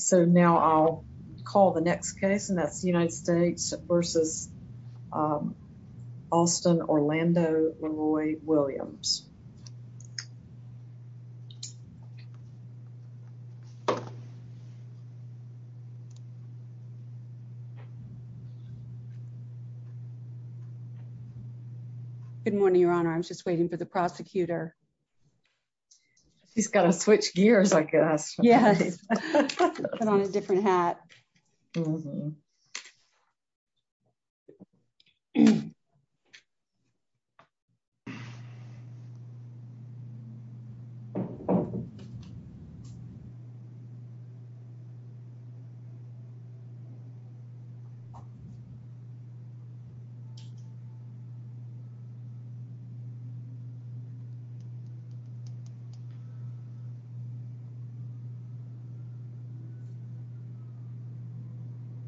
So now I'll call the next case, and that's the United States v. Alston Orlando LeRoy Williams. Good morning, Your Honor. I'm just waiting for the prosecutor. He's got to switch gears, I guess. Yes. Put on a different hat.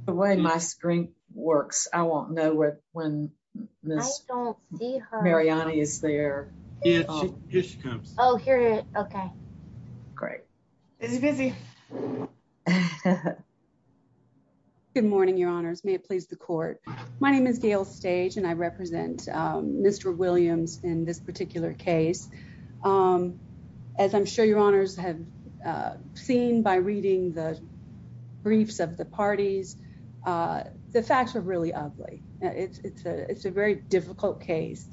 The way my screen works, I won't know when Miss Mariani is there. Here she comes. Oh, here. Okay. Great. Busy, busy. Good morning, Your Honors. May it please the court. My name is Gail Stage, and I represent Mr. Williams in this particular case. As I'm sure Your Honors have seen by reading the briefs of the parties, the facts are really ugly. It's a very difficult case,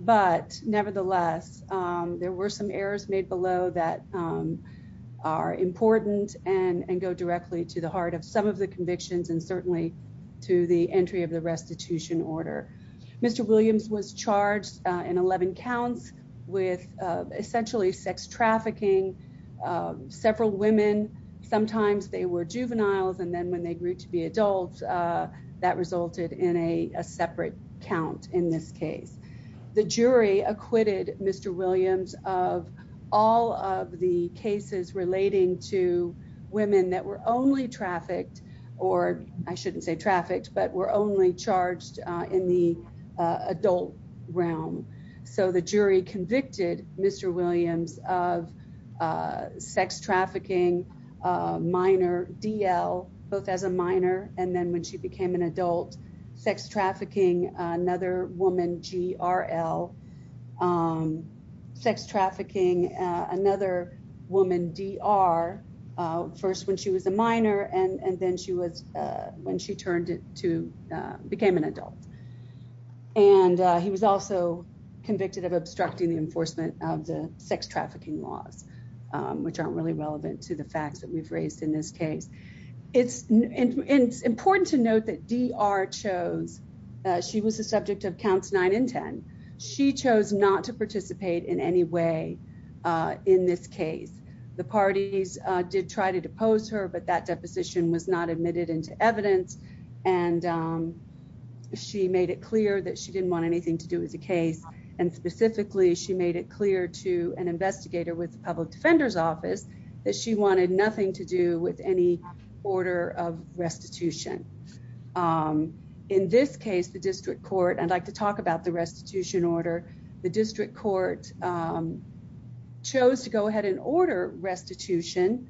but nevertheless, there were some errors made below that are important and go directly to the heart of some of the convictions and certainly to the entry of the restitution order. Mr. Williams was charged in 11 counts with essentially sex trafficking. Several women, sometimes they were juveniles, and then when they grew to be adults, that resulted in a separate count in this case. The jury acquitted Mr. Williams of all of the cases relating to women that were only trafficked, or I shouldn't say trafficked, but were only charged in the adult realm. So the jury convicted Mr. Williams of sex trafficking, minor, DL, both as a minor, and then when she became an adult, sex trafficking, another woman, GRL, sex trafficking, another woman, DR, first when she was a minor, and then when she became an adult. And he was also convicted of obstructing the enforcement of the sex trafficking laws, which aren't really relevant to the facts that we've raised in this case. It's important to note that DR chose, she was the subject of counts nine and 10. She chose not to participate in any way in this case. The parties did try to depose her, but that deposition was not admitted into evidence, and she made it clear that she didn't want anything to do with the case. And specifically, she made it clear to an investigator with the public defender's office that she wanted nothing to do with any order of restitution. In this case, the district court, I'd like to talk about the restitution order. The district court chose to go ahead and order restitution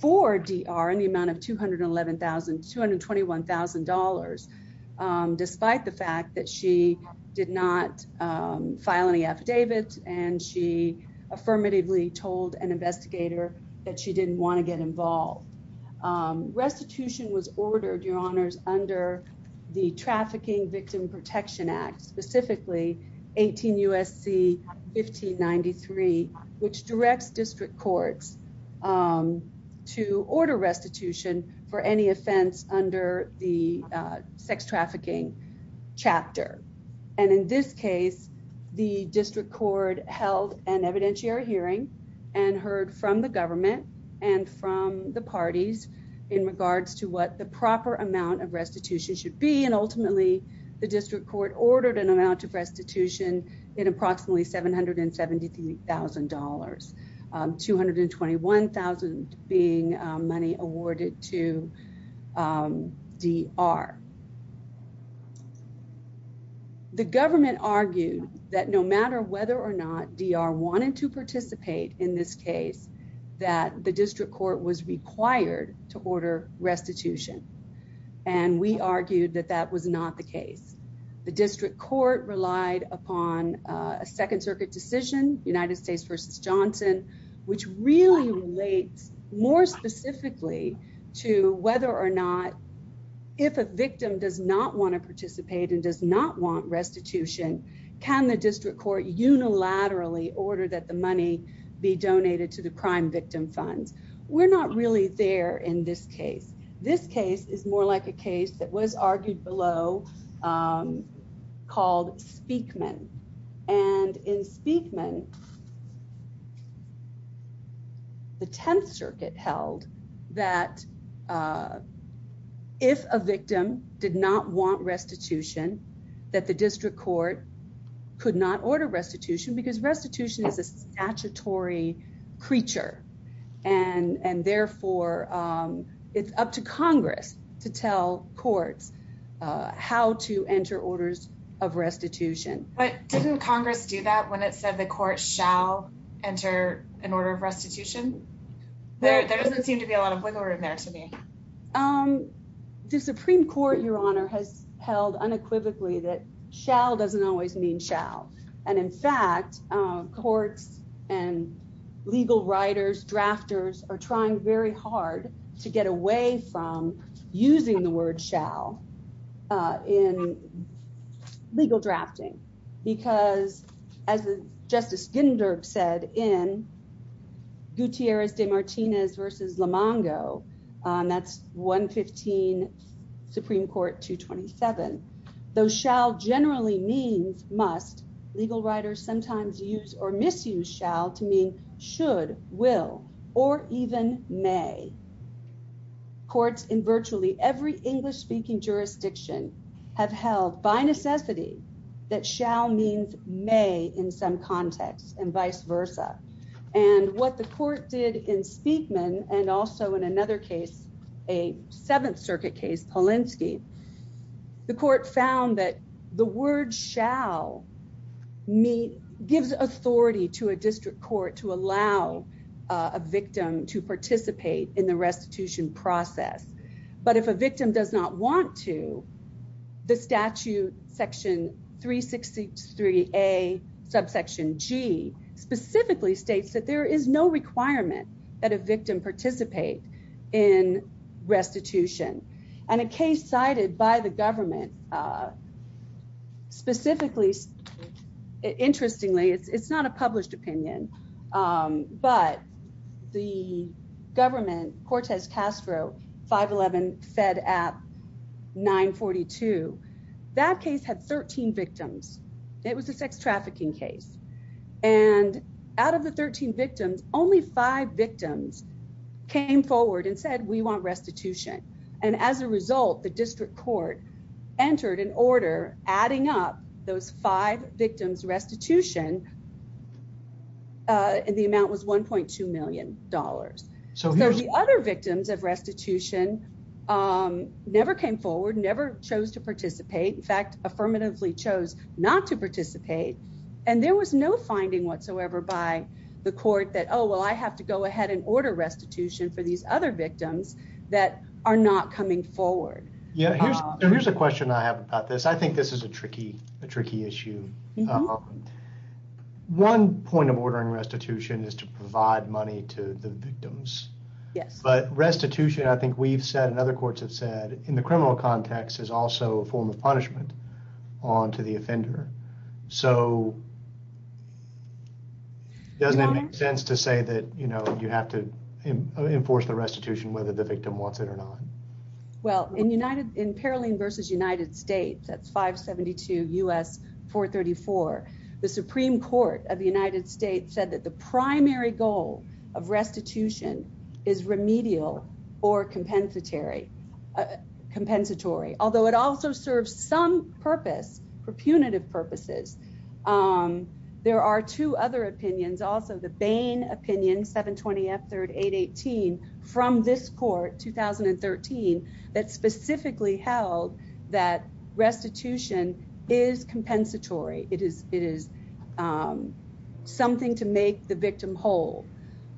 for DR in the amount of $211,000, $221,000, despite the fact that she did not file any affidavits, and she affirmatively told an investigator that she didn't want to get involved. Restitution was ordered, Your Honors, under the Trafficking Victim Protection Act, specifically 18 U.S.C. 1593, which directs district courts to order restitution for any offense under the sex trafficking chapter. And in this case, the district court held an evidentiary hearing and heard from the government and from the parties in regards to what the proper amount of restitution should be, and ultimately, the district court ordered an amount of restitution in approximately $773,000, $221,000 being money awarded to DR. The government argued that no matter whether or not DR wanted to participate in this case, that the district court was required to order restitution, and we argued that that was not the case. The district court relied upon a Second Circuit decision, United States v. Johnson, which really relates more specifically to whether or not, if a victim does not want to participate and does not want restitution, can the district court unilaterally order that the money be donated to the crime victim funds? We're not really there in this case. This case is more like a case that was argued below called Speakman. And in Speakman, the Tenth Circuit held that if a victim did not want restitution, that the district court could not order restitution because restitution is a statutory creature, and therefore, it's up to Congress to tell courts how to enter orders of restitution. Didn't Congress do that when it said the court shall enter an order of restitution? There doesn't seem to be a lot of wiggle room there to me. The Supreme Court, Your Honor, has held unequivocally that shall doesn't always mean shall. And in fact, courts and legal writers, drafters, are trying very hard to get away from using the word shall in legal drafting. Because, as Justice Ginder said in Gutierrez de Martinez v. Lomongo, that's 115 Supreme Court 227, though shall generally means must, legal writers sometimes use or misuse shall to mean should, will, or even may. Courts in virtually every English-speaking jurisdiction have held by necessity that shall means may in some context and vice versa. And what the court did in Speakman and also in another case, a Seventh Circuit case, Polinsky, the court found that the word shall gives authority to a district court to allow a victim to participate in the restitution process. But if a victim does not want to, the statute, section 363A, subsection G, specifically states that there is no requirement that a victim participate in restitution. And a case cited by the government, specifically, interestingly, it's not a published opinion, but the government, Cortez Castro, 511 Fed App 942, that case had 13 victims. It was a sex trafficking case. And out of the 13 victims, only five victims came forward and said, we want restitution. And as a result, the district court entered an order adding up those five victims restitution, and the amount was $1.2 million. So the other victims of restitution never came forward, never chose to participate. In fact, affirmatively chose not to participate. And there was no finding whatsoever by the court that, oh, well, I have to go ahead and order restitution for these other victims that are not coming forward. Yeah. Here's a question I have about this. I think this is a tricky, a tricky issue. One point of ordering restitution is to provide money to the victims. Yes. But restitution, I think we've said, and other courts have said, in the criminal context is also a form of punishment on to the offender. So doesn't it make sense to say that, you know, you have to enforce the restitution whether the victim wants it or not? Well, in United, in Paroline versus United States, that's 572 U.S. 434. The Supreme Court of the United States said that the primary goal of restitution is remedial or compensatory, although it also serves some purpose for punitive purposes. There are two other opinions. Also, the Bain opinion, 720 F. 3818 from this court, 2013, that specifically held that restitution is compensatory. It is it is something to make the victim whole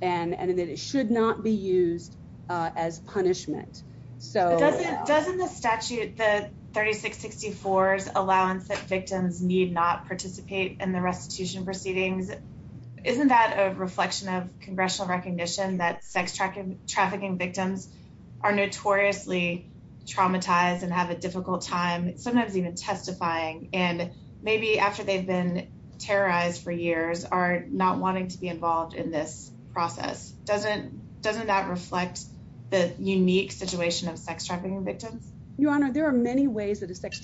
and that it should not be used as punishment. So doesn't doesn't the statute, the 3664 is allowance that victims need not participate in the restitution proceedings. Isn't that a reflection of congressional recognition that sex trafficking, trafficking victims are notoriously traumatized and have a difficult time sometimes even testifying? And maybe after they've been terrorized for years are not wanting to be involved in this process. Doesn't doesn't that reflect the unique situation of sex trafficking victims? Your Honor, there are many ways that a sex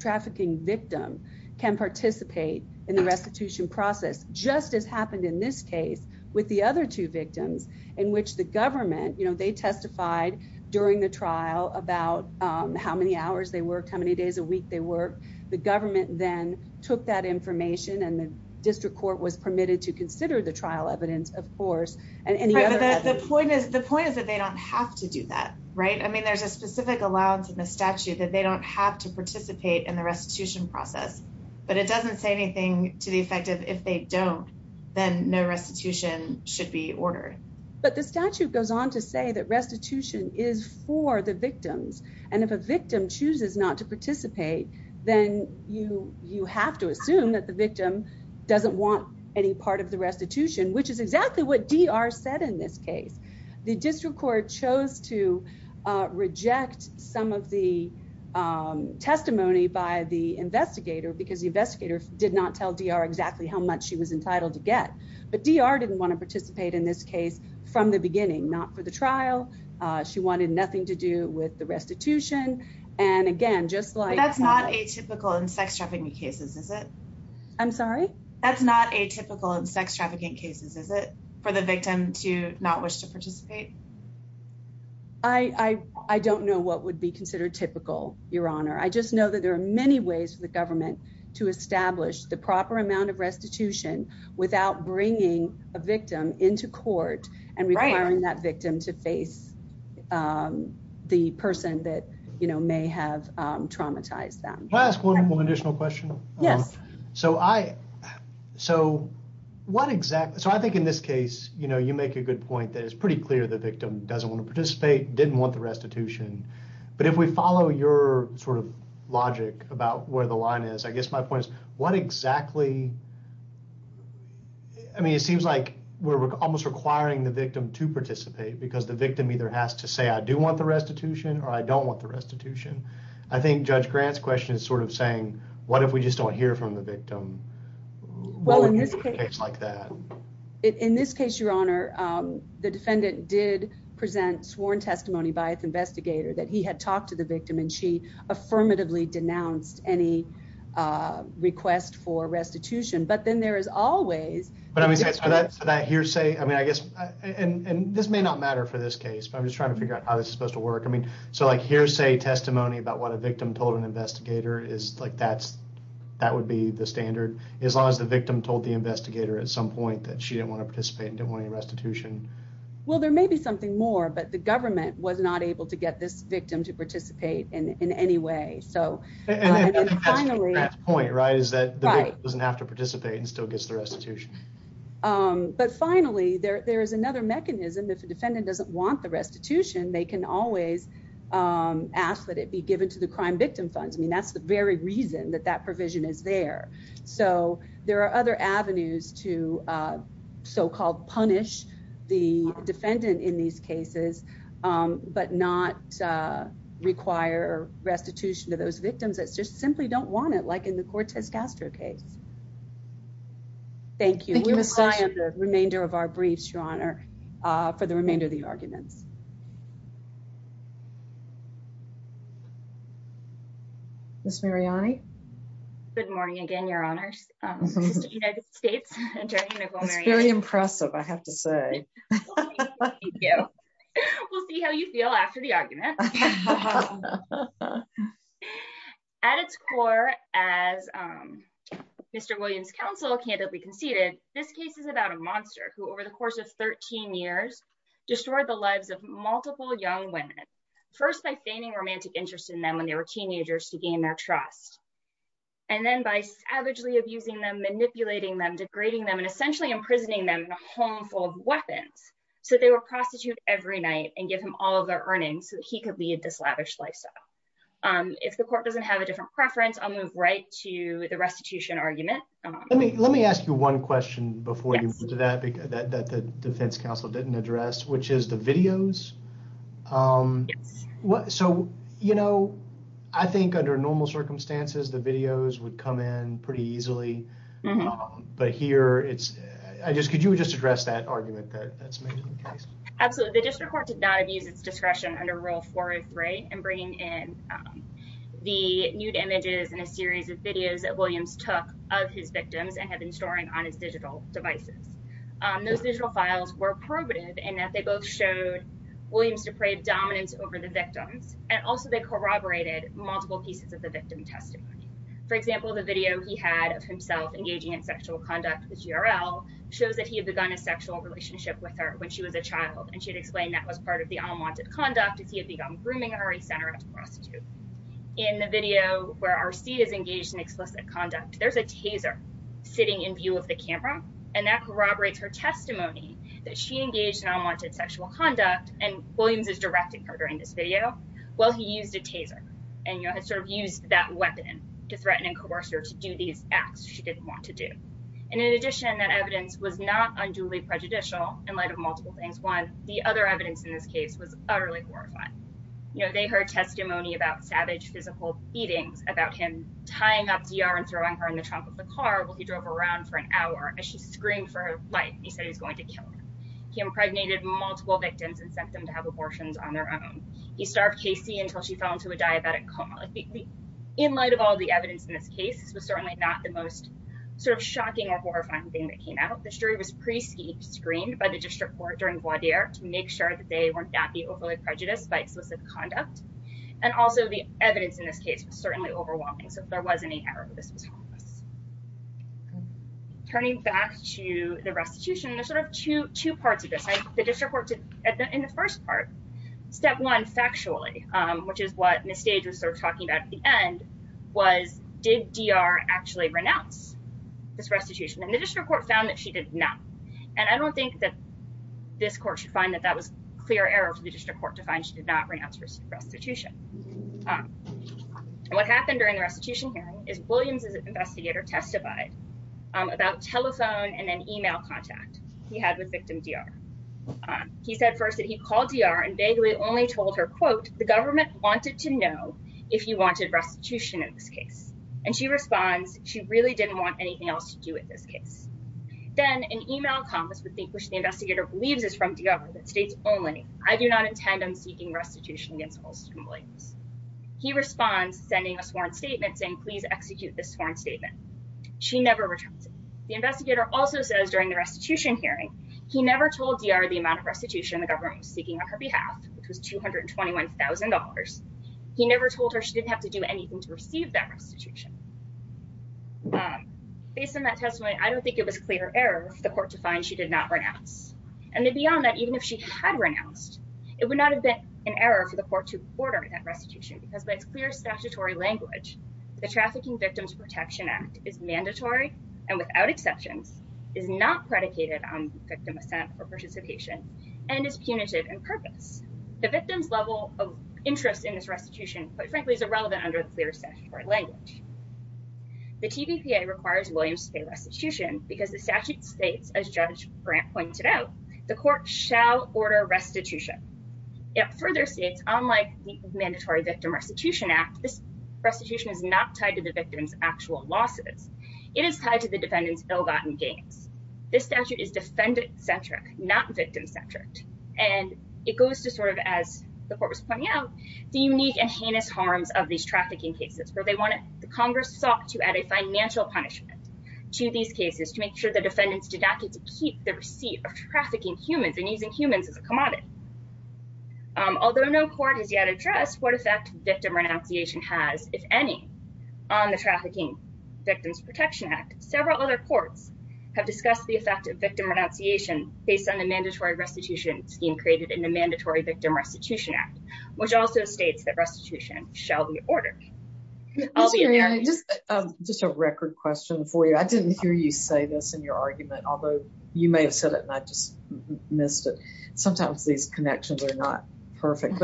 trafficking victim can participate in the restitution process. Just as happened in this case with the other two victims in which the government, you know, they testified during the trial about how many hours they worked, how many days a week they work. The government then took that information and the district court was permitted to consider the trial evidence, of course. And the point is, the point is that they don't have to do that, right? I mean, there's a specific allowance in the statute that they don't have to participate in the restitution process, but it doesn't say anything to the effect of if they don't, then no restitution should be ordered. But the statute goes on to say that restitution is for the victims. And if a victim chooses not to participate, then you you have to assume that the victim doesn't want any part of the restitution, which is exactly what DR said. The district court chose to reject some of the testimony by the investigator because the investigator did not tell DR exactly how much she was entitled to get. But DR didn't want to participate in this case from the beginning, not for the trial. She wanted nothing to do with the restitution. That's not atypical in sex trafficking cases, is it? I'm sorry? That's not atypical in sex trafficking cases, is it, for the victim to not wish to participate? I don't know what would be considered typical, Your Honor. I just know that there are many ways for the government to establish the proper amount of restitution without bringing a victim into court and requiring that victim to face the person that may have traumatized them. Can I ask one additional question? Yes. So I so what exactly so I think in this case, you know, you make a good point that it's pretty clear the victim doesn't want to participate, didn't want the restitution. But if we follow your sort of logic about where the line is, I guess my point is what exactly? I mean, it seems like we're almost requiring the victim to participate because the victim either has to say, I do want the restitution or I don't want the restitution. I think Judge Grant's question is sort of saying, what if we just don't hear from the victim? Well, in this case like that. In this case, Your Honor, the defendant did present sworn testimony by its investigator that he had talked to the victim and she affirmatively denounced any request for restitution. But then there is always. But I mean, that hearsay, I mean, I guess and this may not matter for this case, but I'm just trying to figure out how this is supposed to work. I mean, so like hearsay testimony about what a victim told an investigator is like, that's that would be the standard. As long as the victim told the investigator at some point that she didn't want to participate and didn't want any restitution. Well, there may be something more, but the government was not able to get this victim to participate in any way. And I think that's Judge Grant's point, right, is that the victim doesn't have to participate and still gets the restitution. But finally, there is another mechanism. If a defendant doesn't want the restitution, they can always ask that it be given to the crime victim funds. I mean, that's the very reason that that provision is there. So there are other avenues to so-called punish the defendant in these cases, but not require restitution to those victims. It's just simply don't want it like in the Cortez Castro case. Thank you. The remainder of our briefs, your honor, for the remainder of the arguments. Ms. Mariani. Good morning again, your honors. It's very impressive, I have to say. Yeah. We'll see how you feel after the argument. At its core, as Mr. Williams counsel candidly conceded, this case is about a monster who, over the course of 13 years, destroyed the lives of multiple young women. First, by feigning romantic interest in them when they were teenagers to gain their trust. And then by savagely abusing them, manipulating them, degrading them and essentially imprisoning them in a home full of weapons. So they were prostituted every night and give him all of their earnings so he could be a dislavished lifestyle. If the court doesn't have a different preference, I'll move right to the restitution argument. Let me let me ask you one question before you do that, because that the defense counsel didn't address, which is the videos. What? So, you know, I think under normal circumstances, the videos would come in pretty easily. But here it's I just could you just address that argument? That's absolutely the district court did not use its discretion under Rule four or three and bringing in the nude images and a series of videos that Williams took of his victims and had been storing on his digital devices. Those digital files were probative in that they both showed Williams depraved dominance over the victims. And also they corroborated multiple pieces of the victim testimony. For example, the video he had of himself engaging in sexual conduct with G.R.L. shows that he had begun a sexual relationship with her when she was a child. And she had explained that was part of the unwanted conduct. If he had begun grooming her, he sent her out to prostitute. In the video where R.C. is engaged in explicit conduct, there's a taser sitting in view of the camera, and that corroborates her testimony that she engaged in unwanted sexual conduct. And Williams is directing her during this video. Well, he used a taser and sort of used that weapon to threaten and coerce her to do these acts she didn't want to do. And in addition, that evidence was not unduly prejudicial in light of multiple things. One, the other evidence in this case was utterly horrifying. You know, they heard testimony about savage physical beatings, about him tying up D.R. and throwing her in the trunk of the car while he drove around for an hour as she screamed for her life. He said he was going to kill her. He impregnated multiple victims and sent them to have abortions on their own. He starved Casey until she fell into a diabetic coma. In light of all the evidence in this case, this was certainly not the most sort of shocking or horrifying thing that came out. The jury was pre-screened by the district court during voir dire to make sure that they were not being overly prejudiced by explicit conduct. And also, the evidence in this case was certainly overwhelming. So if there was any error, this was harmless. Turning back to the restitution, there's sort of two parts of this. The district court, in the first part, step one factually, which is what Ms. Stage was sort of talking about at the end, was did D.R. actually renounce this restitution? And the district court found that she did not. And I don't think that this court should find that that was clear error for the district court to find she did not renounce her restitution. And what happened during the restitution hearing is Williams's investigator testified about telephone and then email contact he had with victim D.R. He said first that he called D.R. and vaguely only told her, quote, the government wanted to know if you wanted restitution in this case. And she responds, she really didn't want anything else to do with this case. Then an email comes, which the investigator believes is from D.R., that states only, I do not intend on seeking restitution against Wilson and Williams. He responds, sending a sworn statement saying, please execute this sworn statement. She never returns it. The investigator also says during the restitution hearing, he never told D.R. the amount of restitution the government was seeking on her behalf, which was $221,000. He never told her she didn't have to do anything to receive that restitution. Based on that testimony, I don't think it was clear error for the court to find she did not renounce. And beyond that, even if she had renounced, it would not have been an error for the court to order that restitution because by its clear statutory language, the Trafficking Victims Protection Act is mandatory and without exceptions, is not predicated on victim assent or participation, and is punitive in purpose. The victim's level of interest in this restitution, quite frankly, is irrelevant under the clear statutory language. The TVPA requires Williams to pay restitution because the statute states, as Judge Grant pointed out, the court shall order restitution. It further states, unlike the Mandatory Victim Restitution Act, this restitution is not tied to the victim's actual losses. It is tied to the defendant's ill-gotten gains. This statute is defendant-centric, not victim-centric. And it goes to sort of, as the court was pointing out, the unique and heinous harms of these trafficking cases. Congress sought to add a financial punishment to these cases to make sure the defendants did not get to keep the receipt of trafficking humans and using humans as a commodity. Although no court has yet addressed what effect victim renunciation has, if any, on the Trafficking Victims Protection Act, several other courts have discussed the effect of victim renunciation based on the mandatory restitution scheme created in the Mandatory Victim Restitution Act, which also states that restitution shall be ordered. I'll be there. Just a record question for you. I didn't hear you say this in your argument, although you may have said it and I just missed it. Sometimes these connections are not perfect.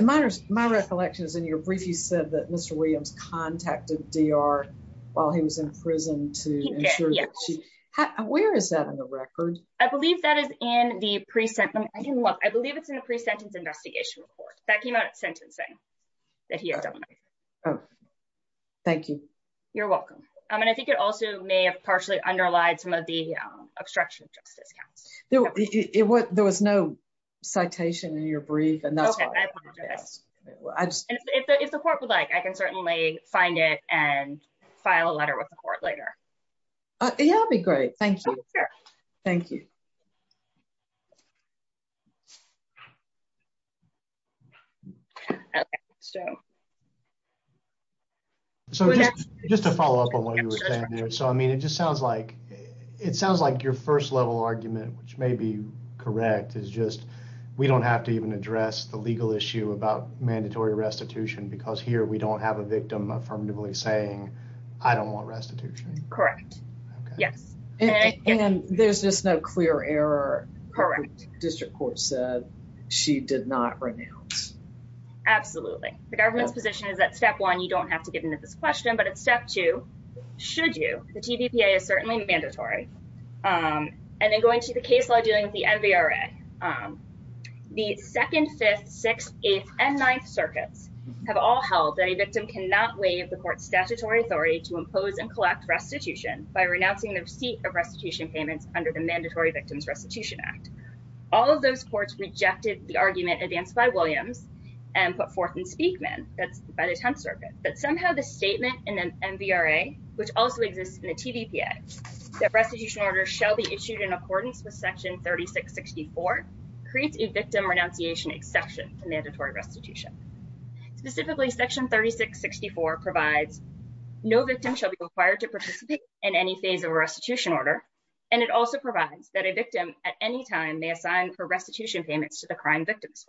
My recollection is in your brief, you said that Mr. Williams contacted D.R. while he was in prison to ensure that she… Yes. Where is that in the record? I believe that is in the pre-sentence. I believe it's in the pre-sentence investigation report. That came out at sentencing that he had done. Oh, thank you. You're welcome. And I think it also may have partially underlied some of the obstruction of justice counts. There was no citation in your brief. Okay, I apologize. If the court would like, I can certainly find it and file a letter with the court later. Yeah, that would be great. Thank you. Sure. Thank you. Okay, so… So, just to follow up on what you were saying there. So, I mean, it just sounds like your first level argument, which may be correct, is just we don't have to even address the legal issue about mandatory restitution because here we don't have a victim affirmatively saying, I don't want restitution. Correct. Okay. Yes. And there's just no clear error. Correct. The district court said she did not renounce. Absolutely. The government's position is that step one, you don't have to get into this question, but at step two, should you? The TVPA is certainly mandatory. And then going to the case law dealing with the MVRA. The 2nd, 5th, 6th, 8th, and 9th circuits have all held that a victim cannot waive the court's statutory authority to impose and collect restitution by renouncing the receipt of restitution payments under the Mandatory Victims Restitution Act. All of those courts rejected the argument advanced by Williams and put forth in Speakman, that's by the 10th circuit. But somehow the statement in the MVRA, which also exists in the TVPA, that restitution orders shall be issued in accordance with Section 3664 creates a victim renunciation exception to mandatory restitution. Specifically, Section 3664 provides no victim shall be required to participate in any phase of a restitution order. And it also provides that a victim at any time may assign for restitution payments to the crime victims.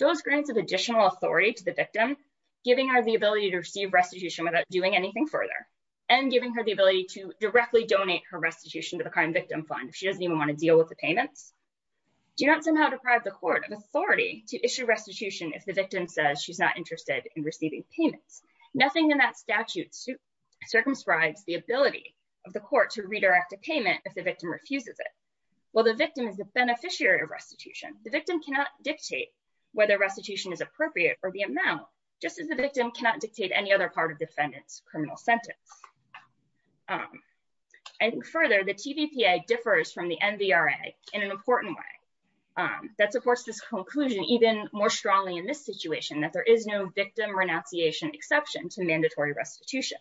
Those grants of additional authority to the victim, giving her the ability to receive restitution without doing anything further and giving her the ability to directly donate her restitution to the crime victim fund. Do you not somehow deprive the court of authority to issue restitution if the victim says she's not interested in receiving payments? Nothing in that statute circumscribes the ability of the court to redirect a payment if the victim refuses it. While the victim is the beneficiary of restitution, the victim cannot dictate whether restitution is appropriate or the amount, just as the victim cannot dictate any other part of defendant's criminal sentence. And further, the TVPA differs from the MVRA in an important way that supports this conclusion even more strongly in this situation that there is no victim renunciation exception to mandatory restitution.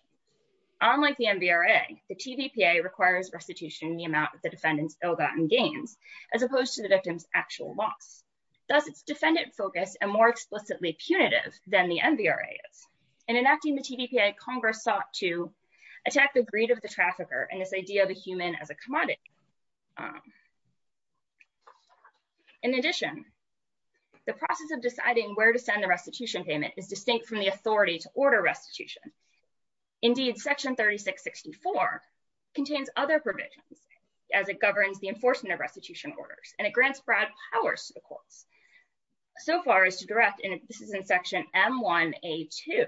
Unlike the MVRA, the TVPA requires restitution in the amount of the defendant's ill-gotten gains, as opposed to the victim's actual loss. Thus, it's defendant-focused and more explicitly punitive than the MVRA is. In enacting the TVPA, Congress sought to attack the greed of the trafficker and this idea of a human as a commodity. In addition, the process of deciding where to send the restitution payment is distinct from the authority to order restitution. Indeed, Section 3664 contains other provisions as it governs the enforcement of restitution orders and it grants broad powers to the courts. So far as to direct, and this is in Section M1A2,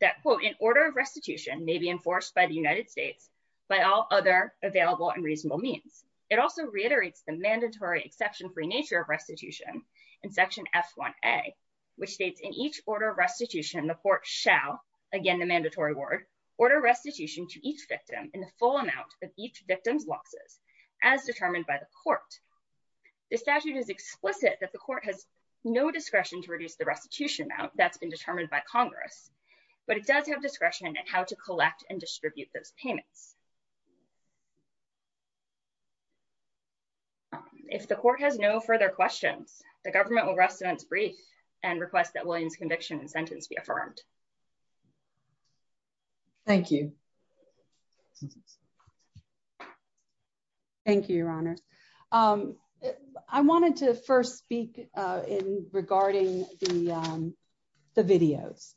that quote, An order of restitution may be enforced by the United States by all other available and reasonable means. It also reiterates the mandatory exception-free nature of restitution in Section F1A, which states, In each order of restitution, the court shall, again the mandatory word, order restitution to each victim in the full amount of each victim's losses, as determined by the court. The statute is explicit that the court has no discretion to reduce the restitution amount that's been determined by Congress, but it does have discretion in how to collect and distribute those payments. If the court has no further questions, the government will rest on its brief and request that Williams' conviction and sentence be affirmed. Thank you. Thank you, Your Honors. I wanted to first speak in regarding the videos.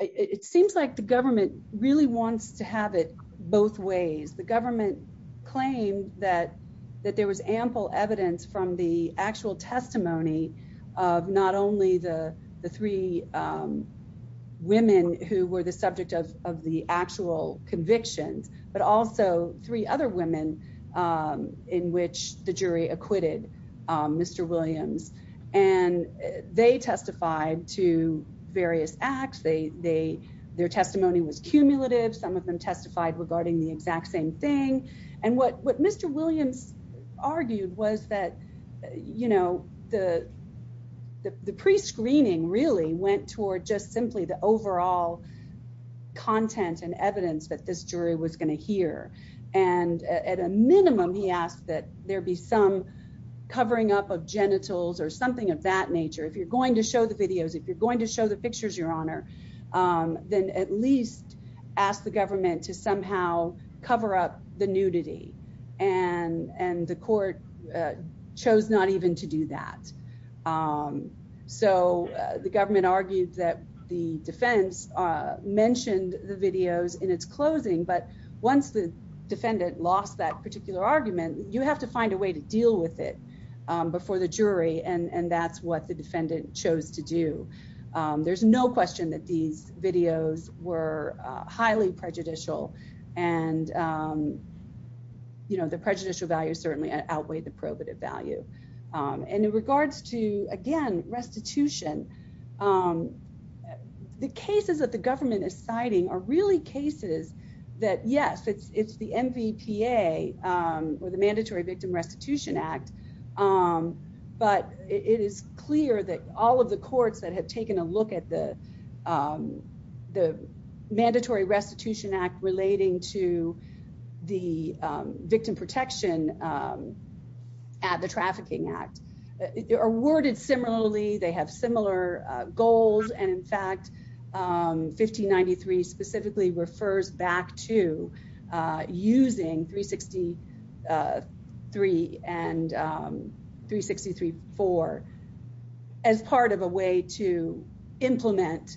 It seems like the government really wants to have it both ways. The government claimed that there was ample evidence from the actual testimony of not only the three women who were the subject of the actual convictions, but also three other women in which the jury acquitted Mr. Williams. And they testified to various acts. Their testimony was cumulative. Some of them testified regarding the exact same thing. And what Mr. Williams argued was that, you know, the prescreening really went toward just simply the overall content and evidence that this jury was going to hear. And at a minimum, he asked that there be some covering up of genitals or something of that nature. If you're going to show the videos, if you're going to show the pictures, Your Honor, then at least ask the government to somehow cover up the nudity. And the court chose not even to do that. So the government argued that the defense mentioned the videos in its closing. But once the defendant lost that particular argument, you have to find a way to deal with it before the jury. And that's what the defendant chose to do. There's no question that these videos were highly prejudicial. And, you know, the prejudicial value certainly outweighed the probative value. And in regards to, again, restitution, the cases that the government is citing are really cases that, yes, it's the MVPA or the Mandatory Victim Restitution Act. But it is clear that all of the courts that have taken a look at the Mandatory Restitution Act relating to the victim protection at the Trafficking Act are worded similarly. They have similar goals. And, in fact, 1593 specifically refers back to using 363 and 363-4 as part of a way to implement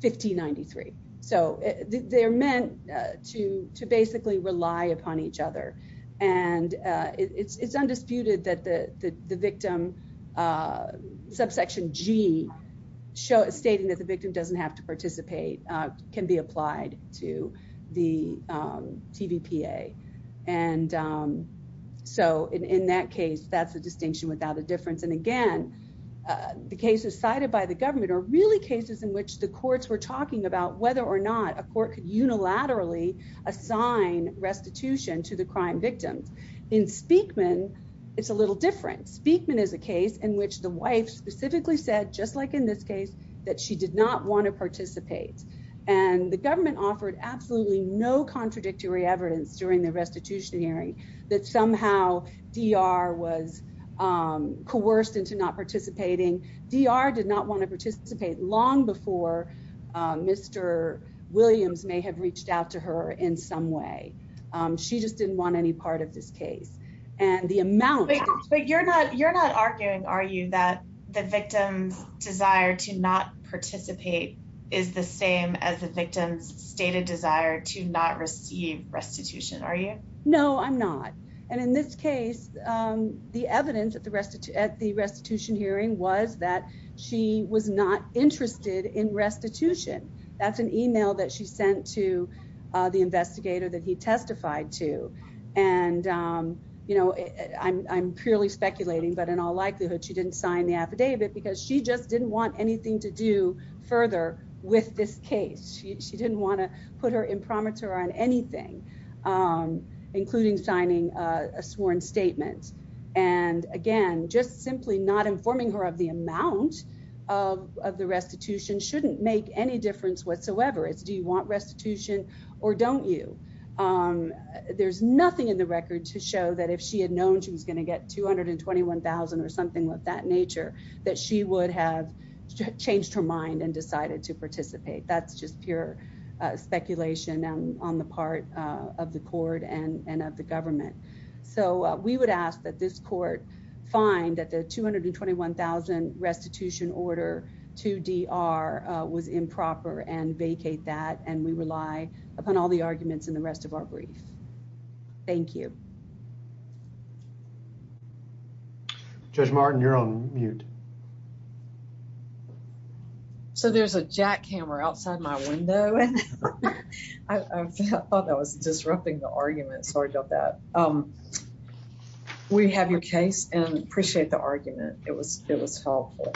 1593. So they're meant to basically rely upon each other. And it's undisputed that the victim subsection G stating that the victim doesn't have to participate can be applied to the TVPA. And so in that case, that's a distinction without a difference. And, again, the cases cited by the government are really cases in which the courts were talking about whether or not a court could unilaterally assign restitution to the crime victims. In Speakman, it's a little different. Speakman is a case in which the wife specifically said, just like in this case, that she did not want to participate. And the government offered absolutely no contradictory evidence during the restitution hearing that somehow DR was coerced into not participating. DR did not want to participate long before Mr. Williams may have reached out to her in some way. She just didn't want any part of this case. But you're not arguing, are you, that the victim's desire to not participate is the same as the victim's stated desire to not receive restitution, are you? No, I'm not. And in this case, the evidence at the restitution hearing was that she was not interested in restitution. That's an email that she sent to the investigator that he testified to. And, you know, I'm purely speculating, but in all likelihood, she didn't sign the affidavit because she just didn't want anything to do further with this case. She didn't want to put her imprimatur on anything, including signing a sworn statement. And again, just simply not informing her of the amount of the restitution shouldn't make any difference whatsoever. It's do you want restitution or don't you? There's nothing in the record to show that if she had known she was going to get $221,000 or something of that nature, that she would have changed her mind and decided to participate. That's just pure speculation on the part of the court and of the government. So we would ask that this court find that the $221,000 restitution order to DR was improper and vacate that. And we rely upon all the arguments in the rest of our brief. Thank you. Judge Martin, you're on mute. So there's a jackhammer outside my window. I thought that was disrupting the argument. Sorry about that. We have your case and appreciate the argument. It was helpful.